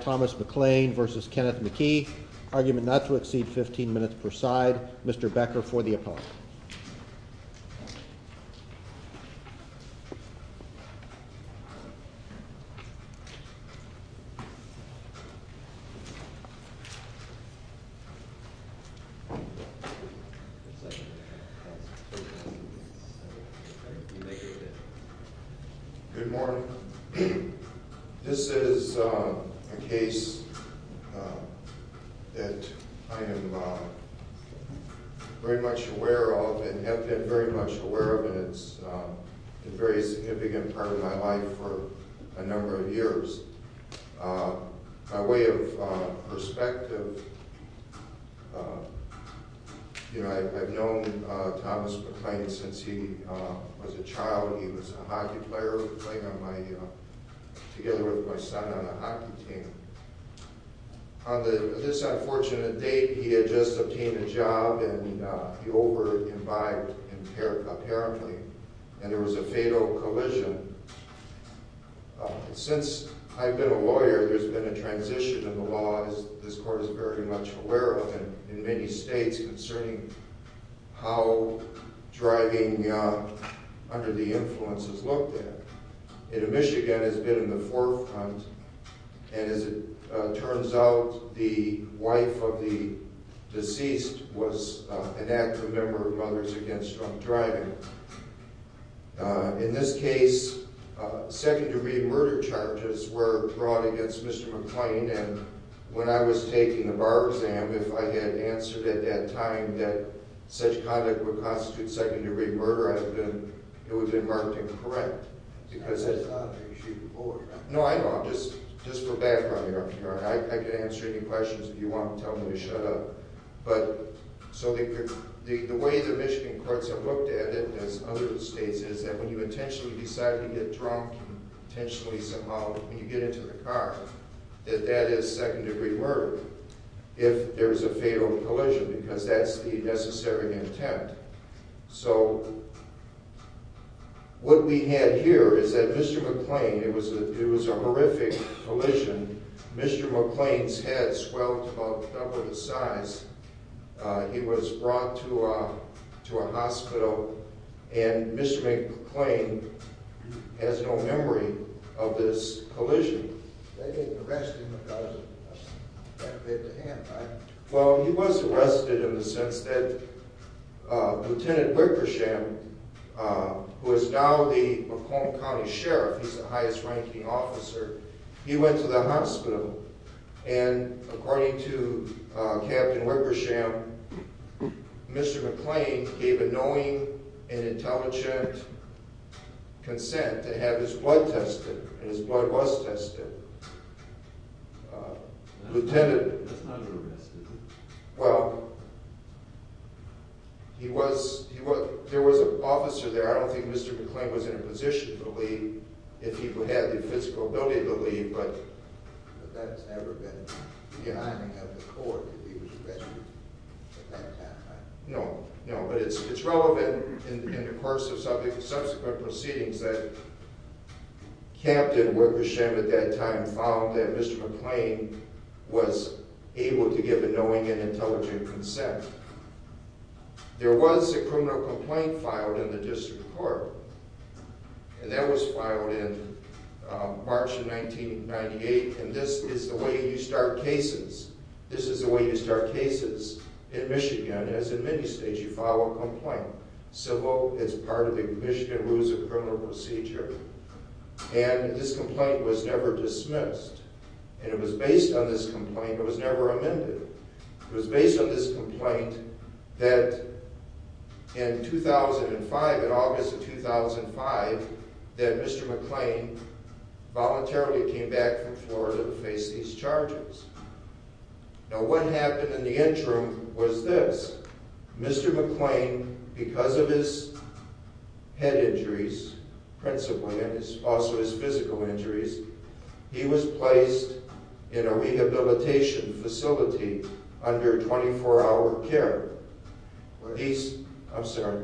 Thomas McLean v. Kenneth McKee, argument not to exceed 15 minutes per side. Mr. Becker for the opponent. Good morning. This is a case that I am very much aware of, and have been very much aware of, and it's been a very significant part of my life. My way of perspective, I've known Thomas McLean since he was a child. He was a hockey player, playing together with my son on a hockey team. On this unfortunate date, he had just obtained a job, and he over-imbibed apparently, and there was a fatal collision. Since I've been a lawyer, there's been a transition in the law, as this court is very much aware of, in many states, concerning how driving under the influence is looked at. Michigan has been in the forefront, and as it turns out, the wife of the deceased was an active member of Mothers Against Drunk Driving. In this case, second-degree murder charges were brought against Mr. McLean, and when I was taking the bar exam, if I had answered at that time that such conduct would constitute second-degree murder, it would have been marked incorrect. No, I know. I'm just for background here. I can answer any questions if you want to tell me to shut up. The way the Michigan courts have looked at it, as other states have, is that when you intentionally decide to get drunk, and you get into the car, that that is second-degree murder, if there is a fatal collision, because that's the necessary attempt. So, what we have here is that Mr. McLean, it was a horrific collision. Mr. McLean's head swelled to about double the size. He was brought to a hospital, and Mr. McLean has no memory of this collision. They didn't arrest him because of that bit of hand, right? Well, he was arrested in the sense that Lieutenant Wickersham, who is now the Macomb County Sheriff, he's the highest-ranking officer, he went to the hospital, and according to Captain Wickersham, Mr. McLean gave a knowing and intelligent consent to have his blood tested, and his blood was tested. That's not an arrest, is it? Well, there was an officer there. I don't think Mr. McLean was in a position to leave if he had the physical ability to leave, but... But that has never been the timing of the court if he was arrested at that time, right? No, no, but it's relevant in the course of subsequent proceedings that Captain Wickersham at that time found that Mr. McLean was able to give a knowing and intelligent consent. There was a criminal complaint filed in the district court, and that was filed in March of 1998, and this is the way you start cases. This is the way you start cases in Michigan, as in many states, you file a complaint. So, look, it's part of the Michigan Rules of Criminal Procedure, and this complaint was never dismissed, and it was based on this complaint. It was never amended. It was based on this complaint that in 2005, in August of 2005, that Mr. McLean voluntarily came back from Florida to face these charges. Now, what happened in the interim was this. Mr. McLean, because of his head injuries, principally, and also his physical injuries, he was placed in a rehabilitation facility under 24-hour care. I'm sorry.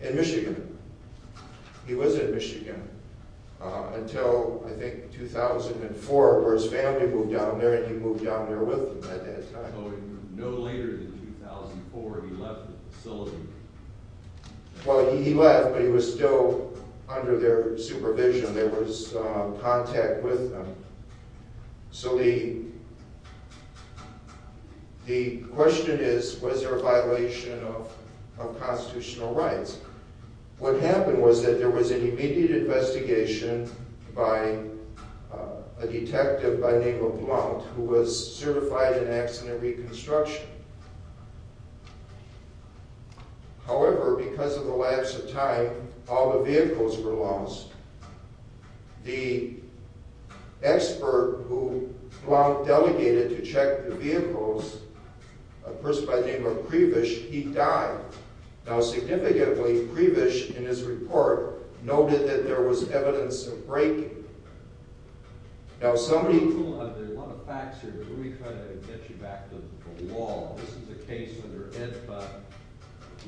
In Michigan. He was in Michigan until, I think, 2004, where his family moved down there, and he moved down there with them at that time. Well, he left, but he was still under their supervision. There was contact with them. So, the question is, was there a violation of constitutional rights? What happened was that there was an immediate investigation by a detective by the name of Mount, who was certified in accident reconstruction. However, because of the lapse of time, all the vehicles were lost. The expert who Mount delegated to check the vehicles, a person by the name of Prebish, he died. Now, significantly, Prebish, in his report, noted that there was evidence of breaking. Now, somebody... There are a lot of facts here. Let me try to get you back to the law. This is a case under EDFA.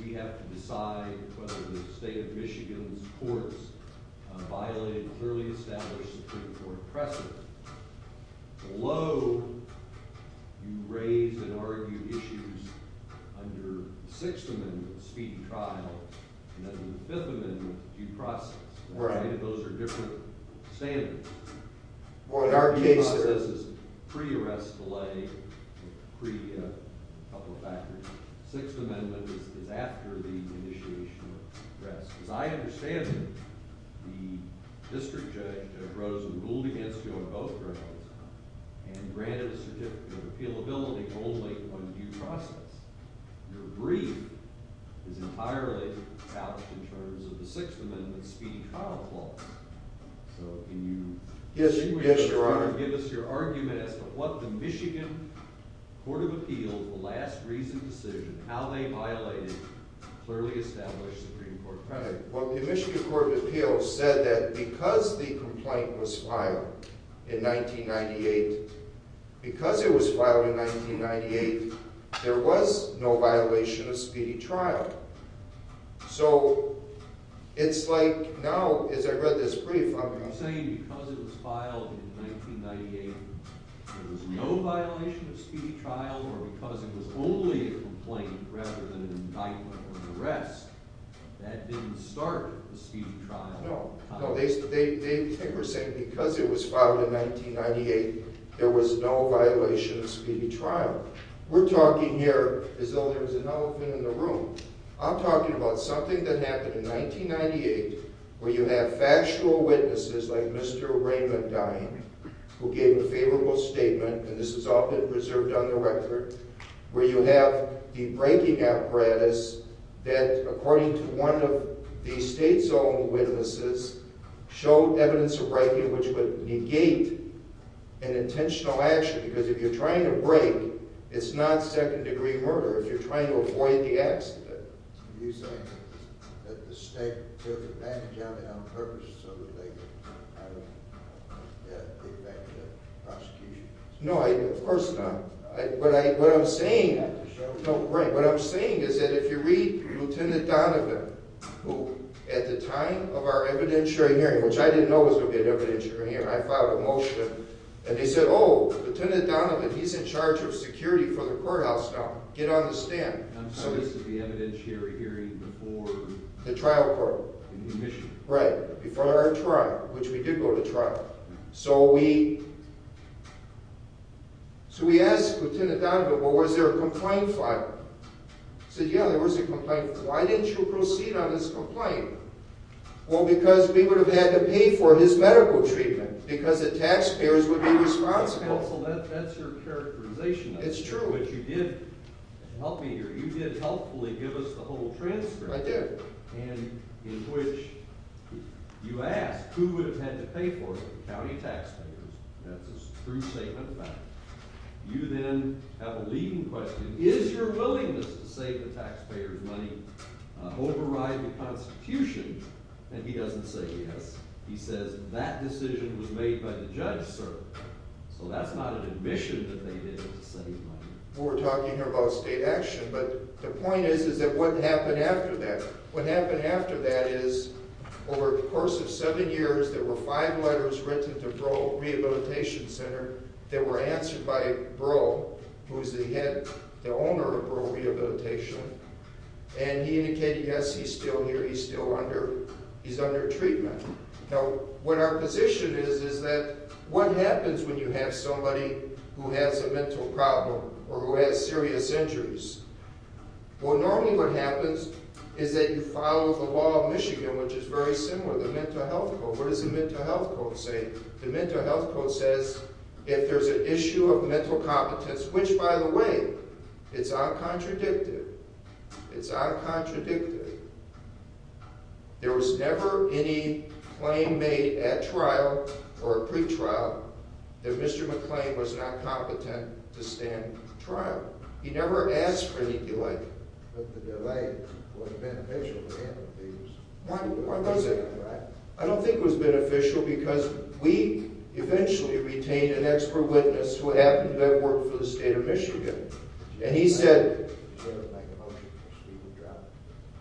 We have to decide whether the state of Michigan's courts violated a clearly established Supreme Court precedent. Below, you raise and argue issues under the Sixth Amendment, the speedy trial, and under the Fifth Amendment, due process. Those are different standards. In our case, this is pre-arrest delay, pre-couple of factors. Sixth Amendment is after the initiation of arrest. As I understand it, the district judge, Ted Rosen, ruled against you on both grounds and granted a certificate of appealability only on due process. Your brief is entirely established in terms of the Sixth Amendment speedy trial clause. So, can you... Yes, Your Honor. Can you give us your argument as to what the Michigan Court of Appeals, the last reasoned decision, how they violated a clearly established Supreme Court precedent? Well, the Michigan Court of Appeals said that because the complaint was filed in 1998, because it was filed in 1998, there was no violation of speedy trial. So, it's like now, as I read this brief... You're saying because it was filed in 1998, there was no violation of speedy trial, or because it was only a complaint rather than an indictment or an arrest, that didn't start the speedy trial? No. They were saying because it was filed in 1998, there was no violation of speedy trial. We're talking here as though there's an elephant in the room. I'm talking about something that happened in 1998 where you have factual witnesses like Mr. Raymond Dine, who gave a favorable statement, and this has all been preserved on the record, where you have the breaking apparatus that, according to one of the state's own witnesses, showed evidence of breaking which would negate an intentional action, because if you're trying to break, it's not second-degree murder if you're trying to avoid the accident. Are you saying that the state took advantage of it on purpose so that they could get back to the prosecution? No, of course not. What I'm saying is that if you read Lt. Donovan, who at the time of our evidentiary hearing, which I didn't know was going to be an evidentiary hearing, I filed a motion, and they said, oh, Lt. Donovan, he's in charge of security for the courthouse now. Get on the stand. I'm sorry, this is the evidentiary hearing before... The trial court. In New Michigan. Right, before our trial, which we did go to trial. So we asked Lt. Donovan, well, was there a complaint file? He said, yeah, there was a complaint file. Why didn't you proceed on this complaint? Well, because we would have had to pay for his medical treatment because the taxpayers would be responsible. Well, that's your characterization. It's true. But you did helpfully give us the whole transcript. I did. And in which you asked who would have had to pay for it, the county taxpayers. That's a true statement of fact. You then have a leading question. Is your willingness to save the taxpayers' money overriding the Constitution? And he doesn't say yes. He says that decision was made by the judge, sir. So that's not an admission that they did save money. We were talking here about state action, but the point is, is that what happened after that? What happened after that is, over the course of seven years, there were five letters written to Breaux Rehabilitation Center that were answered by Breaux, who is the head, the owner of Breaux Rehabilitation. And he indicated, yes, he's still here. He's still under, he's under treatment. Now, what our position is, is that what happens when you have somebody who has a mental problem or who has serious injuries? Well, normally what happens is that you follow the law of Michigan, which is very similar, the Mental Health Code. What does the Mental Health Code say? The Mental Health Code says if there's an issue of mental competence, which, by the way, it's uncontradicted, it's uncontradicted. There was never any claim made at trial or at pretrial that Mr. McClain was not competent to stand trial. He never asked for any delay. But the delay was beneficial to him. Why was it? I don't think it was beneficial because we eventually retained an expert witness who happened to have worked for the state of Michigan. Did you ever make a motion for Steve McGrath?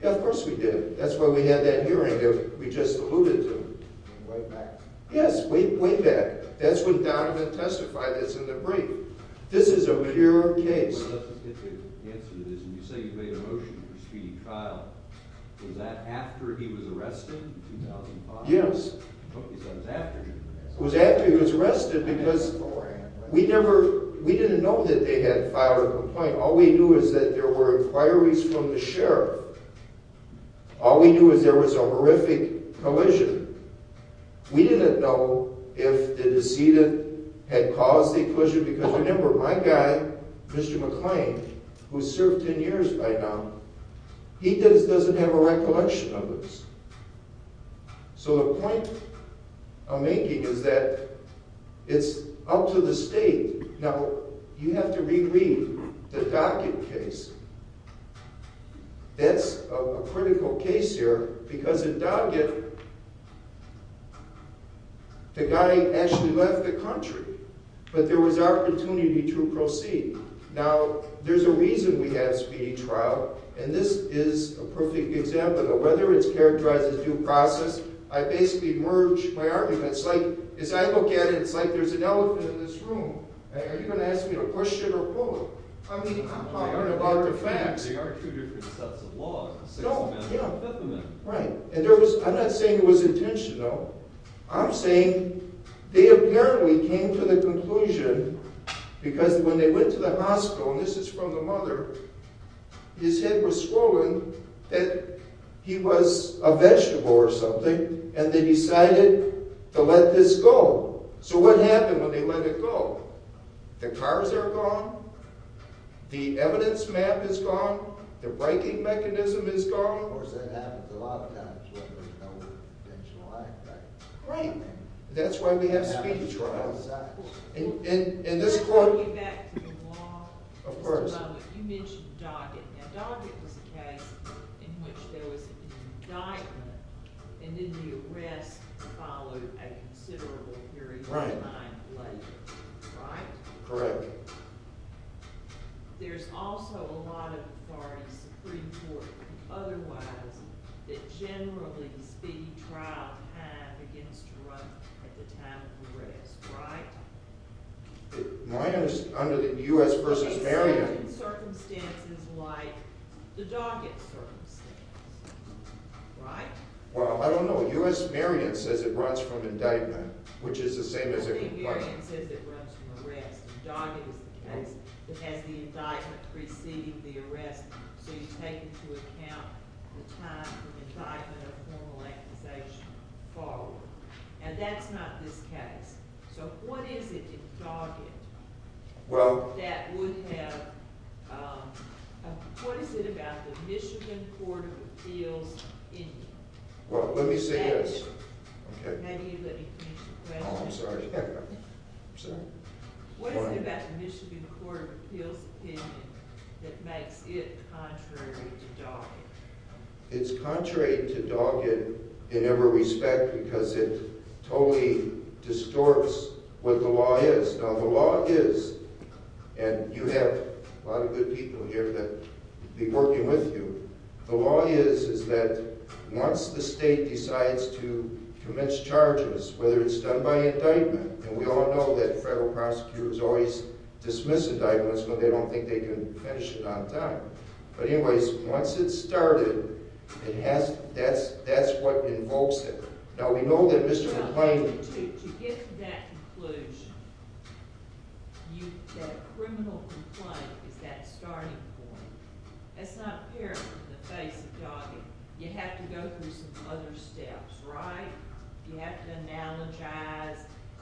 Yeah, of course we did. That's why we had that hearing that we just alluded to. Way back. Yes, way back. That's when Donovan testified. It's in the brief. This is a pure case. Well, let's just get to the answer to this. When you say you made a motion for Steve's trial, was that after he was arrested in 2005? Yes. I thought you said it was after he was arrested. We didn't know that they had filed a complaint. All we knew is that there were inquiries from the sheriff. All we knew is there was a horrific collision. We didn't know if the decedent had caused the collision because, remember, my guy, Mr. McClain, who's served 10 years by now, he doesn't have a recollection of this. So the point I'm making is that it's up to the state. Now, you have to reread the Doggett case. That's a critical case here because at Doggett, the guy actually left the country, but there was opportunity to proceed. Now, there's a reason we had a speedy trial, and this is a perfect example of whether it's characterized as due process. I basically merge my arguments. It's like, as I look at it, it's like there's an elephant in this room. Are you going to ask me to push it or pull it? I mean, I'm talking about the facts. There are two different sets of laws. Sixth Amendment and Fifth Amendment. I'm not saying it was intentional. I'm saying they apparently came to the conclusion because when they went to the hospital, and this is from the mother, his head was swollen, that he was a vegetable or something, and they decided to let this go. So what happened when they let it go? The cars are gone. The evidence map is gone. The writing mechanism is gone. Of course, that happens a lot of times when there's no intentional act. Right. That's why we have speedy trials. Going back to the law. Of course. You mentioned Doggett. Now, Doggett was a case in which there was an indictment, and then the arrest followed a considerable period of time later, right? Correct. There's also a lot of parties, Supreme Court and otherwise, that generally speedy trials have against drug at the time of arrest, right? Under the U.S. v. Merriam. In certain circumstances like the Doggett circumstance, right? Well, I don't know. U.S. Merriam says it runs from indictment, which is the same as if it were. U.S. Merriam says it runs from arrest, and Doggett is the case that has the indictment preceding the arrest, so you take into account the time from indictment of formal amputation forward. And that's not this case. So what is it in Doggett that would have, what is it about the Michigan Court of Appeals in you? Well, let me see this. Maybe you let me finish the question. Oh, I'm sorry. What is it about the Michigan Court of Appeals opinion that makes it contrary to Doggett? It's contrary to Doggett in every respect because it totally distorts what the law is. Now, the law is, and you have a lot of good people here that will be working with you. The law is that once the state decides to commence charges, whether it's done by indictment, and we all know that federal prosecutors always dismiss indictments when they don't think they can finish it on time. But anyways, once it's started, that's what invokes it. To get to that conclusion, that criminal complaint is that starting point. That's not apparent in the face of Doggett. You have to go through some other steps, right? You have to analogize,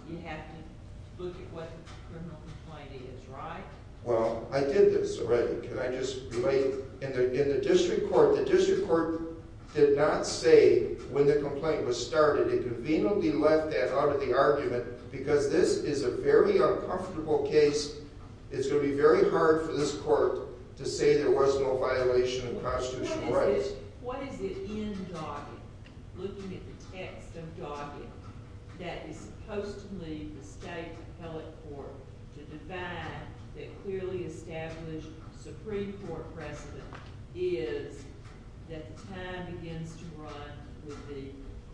you have to look at what the criminal complaint is, right? Well, I did this already. Can I just relate? In the district court, the district court did not say when the complaint was started. It conveniently left that out of the argument because this is a very uncomfortable case. It's going to be very hard for this court to say there was no violation of constitutional rights. What is it in Doggett, looking at the text of Doggett, that is supposed to lead the state appellate court to define that clearly established Supreme Court precedent is that the time begins to run with the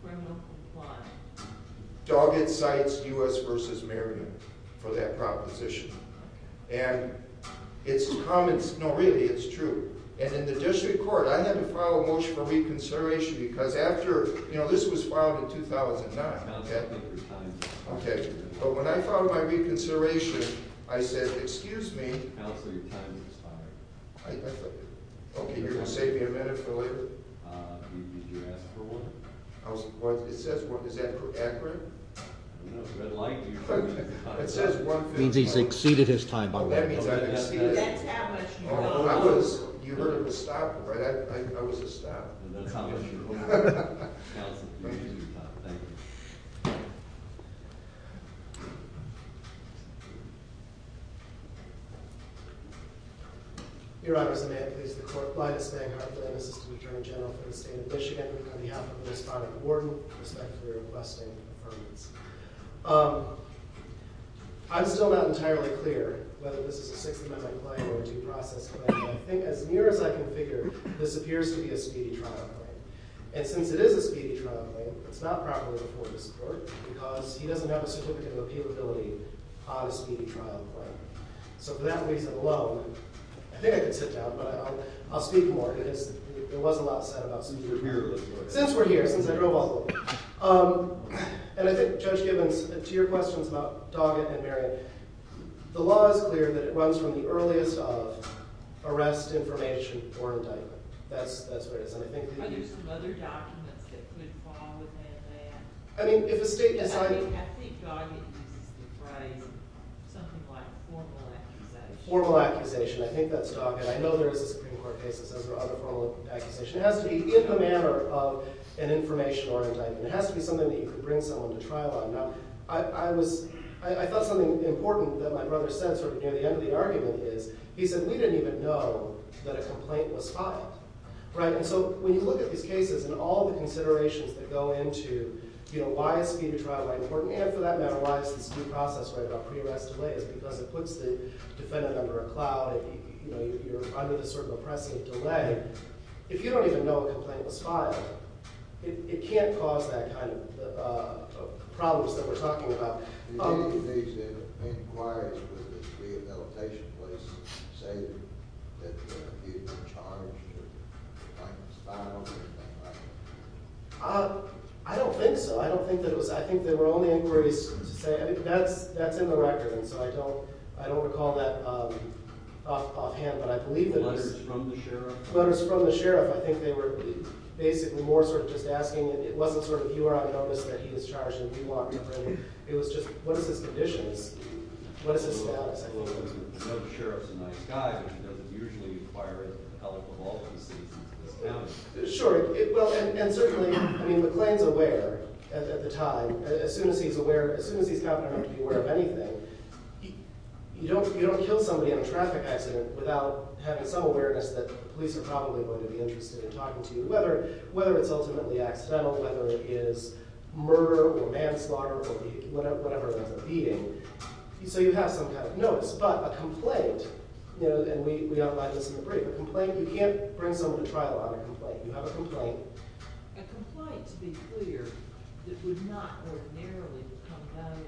criminal complaint? Doggett cites U.S. v. Merriman for that proposition. No, really, it's true. In the district court, I had to file a motion for reconsideration because this was filed in 2009. When I filed my reconsideration, I said, excuse me. Counsel, your time is expired. Okay, you're going to save me a minute for later? Did you ask for one? It says one. Is that accurate? No, but I'd like to. It says one thing. It means he's exceeded his time. That's how much you know. You heard him stop, right? I was a stop. That's how much you know. Thank you. Thank you. Your Honor, as a matter of please, the court applied a Spanghardt Claim, Assistant Attorney General for the State of Michigan, on behalf of Ms. Farley Warden, with respect to her requesting an affirmance. I'm still not entirely clear whether this is a 60-minute claim or a two-process claim, but I think as near as I can figure, this appears to be a speedy trial claim. And since it is a speedy trial claim, it's not properly before this court, because he doesn't have a certificate of appealability on a speedy trial claim. So for that reason alone, I think I can sit down, but I'll speak more. There was a lot said about speedy or weird legal work since we're here, since I drove all the way here. And I think, Judge Gibbons, to your questions about Doggett and Marion, the law is clear that it runs from the earliest of arrest, information, or indictment. Are there some other documents that could fall within that? I think Doggett uses the phrase something like formal accusation. Formal accusation. I think that's Doggett. I know there is a Supreme Court case that says there are other formal accusations. It has to be in the manner of an information or indictment. It has to be something that you could bring someone to trial on. I thought something important that my brother said sort of near the end of the argument is, he said, we didn't even know that a complaint was filed. And so when you look at these cases and all the considerations that go into why is speedy trial important, and for that matter, why is this due process right about pre-arrest delays, because it puts the defendant under a cloud and you're under this sort of oppressive delay. If you don't even know a complaint was filed, it can't cause that kind of problems that we're talking about. Did any of these inquiries with the rehabilitation place say that the defendant was charged with a complaint that was filed or anything like that? I don't think so. I think there were only inquiries to say, that's in the record, so I don't recall that offhand. Letters from the sheriff? Letters from the sheriff. I think they were basically more sort of just asking, it wasn't sort of, you are on notice that he is charged and we want to bring him. It was just, what is his conditions? What is his status? Well, the sheriff's a nice guy, but he doesn't usually inquire into the health of all of the citizens of this county. Sure. And certainly, I mean, McLean's aware at the time. As soon as he's aware, as soon as he's confident enough to be aware of anything, you don't kill somebody in a traffic accident without having some awareness that the police are probably going to be interested in talking to you, whether it's ultimately accidental, whether it is murder or manslaughter or whatever it is, a beating. So you have some kind of notice, but a complaint, and we outlined this in the brief, a complaint, you can't bring someone to trial on a complaint. You have a complaint. A complaint, to be clear, that would not ordinarily become valid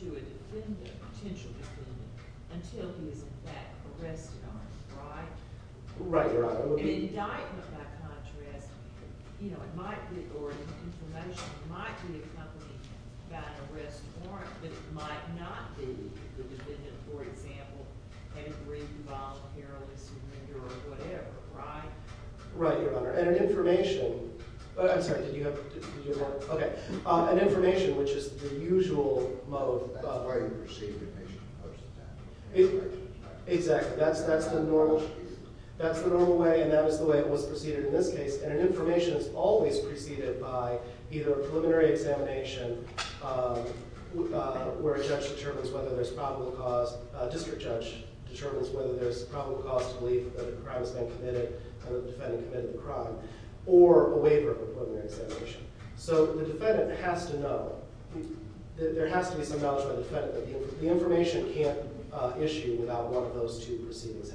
to a defendant, a potential defendant, until he is in fact arrested on it, right? Right, Your Honor. An indictment, by contrast, you know, it might be, or an information, it might be accompanied by an arrest warrant, but it might not be the defendant, for example, had it written by a perilous offender or whatever, right? Right, Your Honor. And an information, I'm sorry, did you have, did you have more? Okay. An information, which is the usual mode. That's the way you precede the patient. Exactly, that's the normal, that's the normal way, and that is the way it was preceded in this case, and an information is always preceded by either a preliminary examination where a judge determines whether there's probable cause, a district judge determines whether there's probable cause to believe that a crime has been committed and the defendant committed the crime, or a waiver of a preliminary examination. So the defendant has to know, there has to be some knowledge by the defendant that the information can't issue without one of those two proceedings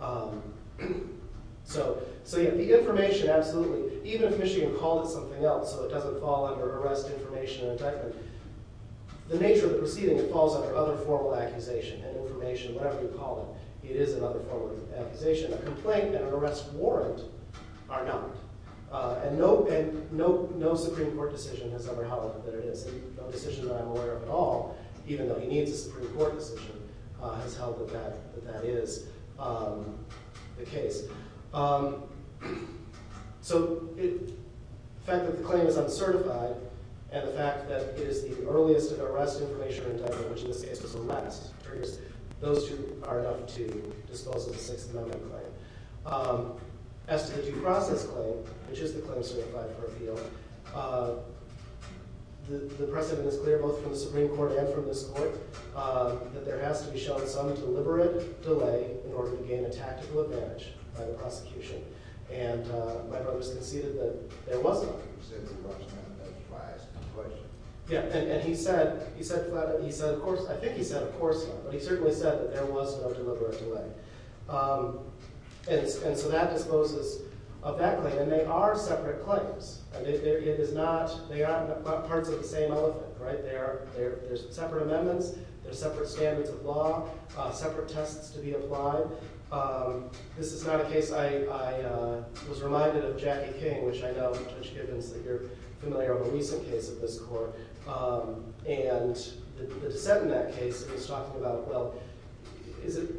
happening. So, so yeah, the information, absolutely, even if Michigan called it something else so it doesn't fall under arrest information and indictment, the nature of the proceeding, it falls under other formal accusation and information, whatever you call it. It is another formal accusation. A complaint and an arrest warrant are not, and no, and no, no Supreme Court decision has ever held that it is. No decision that I'm aware of at all, even though he needs a Supreme Court decision, has held that that is the case. So the fact that the claim is uncertified, and the fact that it is the earliest arrest information indictment, which in this case was the last, those two are enough to dispose of the Sixth Amendment claim. As to the due process claim, which is the claim certified for appeal, the precedent is clear both from the Supreme Court and from this Court, that there has to be shown some deliberate delay in order to gain a tactical advantage by the prosecution. And my brother's conceded that there was no deliberate delay. Yeah, and he said, he said, he said of course, I think he said of course not, but he certainly said that there was no deliberate delay. And so that disposes of that claim. And they are separate claims. It is not, they are parts of the same elephant, right? They are, there's separate amendments, there's separate standards of law, separate tests to be applied. This is not a case, I was reminded of Jackie King, which I know, Judge Gibbons, that you're familiar with a recent case of this court. And the dissent in that case is talking about, well, is it,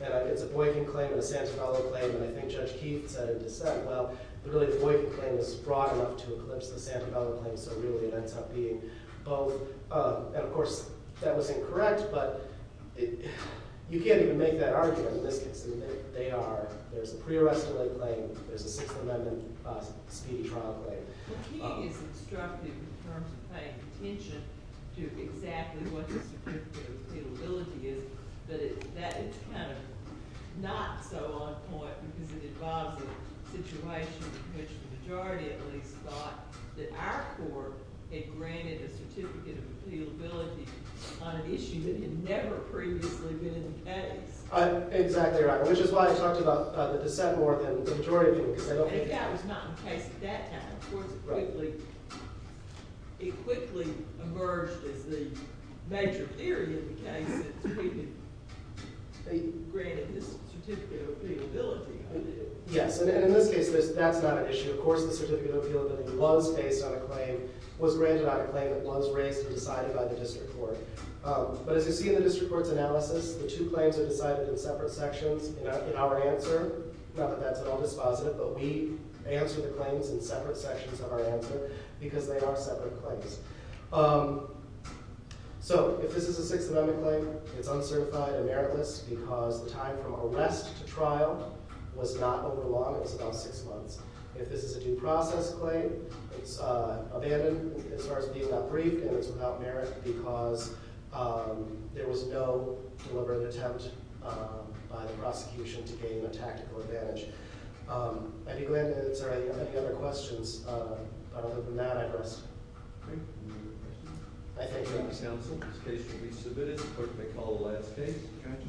it's a Boykin claim and a Santabello claim, and I think Judge Keith said in dissent, well, really the Boykin claim is broad enough to eclipse the Santabello claim, so really it ends up being both. And of course, that was incorrect, but you can't even make that argument in this case. And they are, there's a pre-arrest delay claim, there's a Sixth Amendment speedy trial claim. But he is instructive in terms of paying attention to exactly what the certificate of appealability is, but it's kind of not so on point because it involves a situation in which the majority at least thought that our court had granted a certificate of appealability on an issue that had never previously been in the case. Exactly right, which is why I talked about the dissent more than the majority of people, because I don't think it's... But that was not the case at that time. Of course, it quickly emerged as the major theory in the case, that we had granted this certificate of appealability. Yes, and in this case, that's not an issue. Of course, the certificate of appealability was based on a claim, was granted on a claim that was raised and decided by the district court. But as you see in the district court's analysis, the two claims are decided in separate sections. In our answer, not that that's at all dispositive, but we answer the claims in separate sections of our answer because they are separate claims. So, if this is a Sixth Amendment claim, it's uncertified and meritless because the time from arrest to trial was not over the law, it was about six months. If this is a due process claim, it's abandoned as far as being not briefed and it's without merit because there was no deliberate attempt by the prosecution to gain a tactical advantage. Are there any other questions? Other than that, I'd rest. I thank you.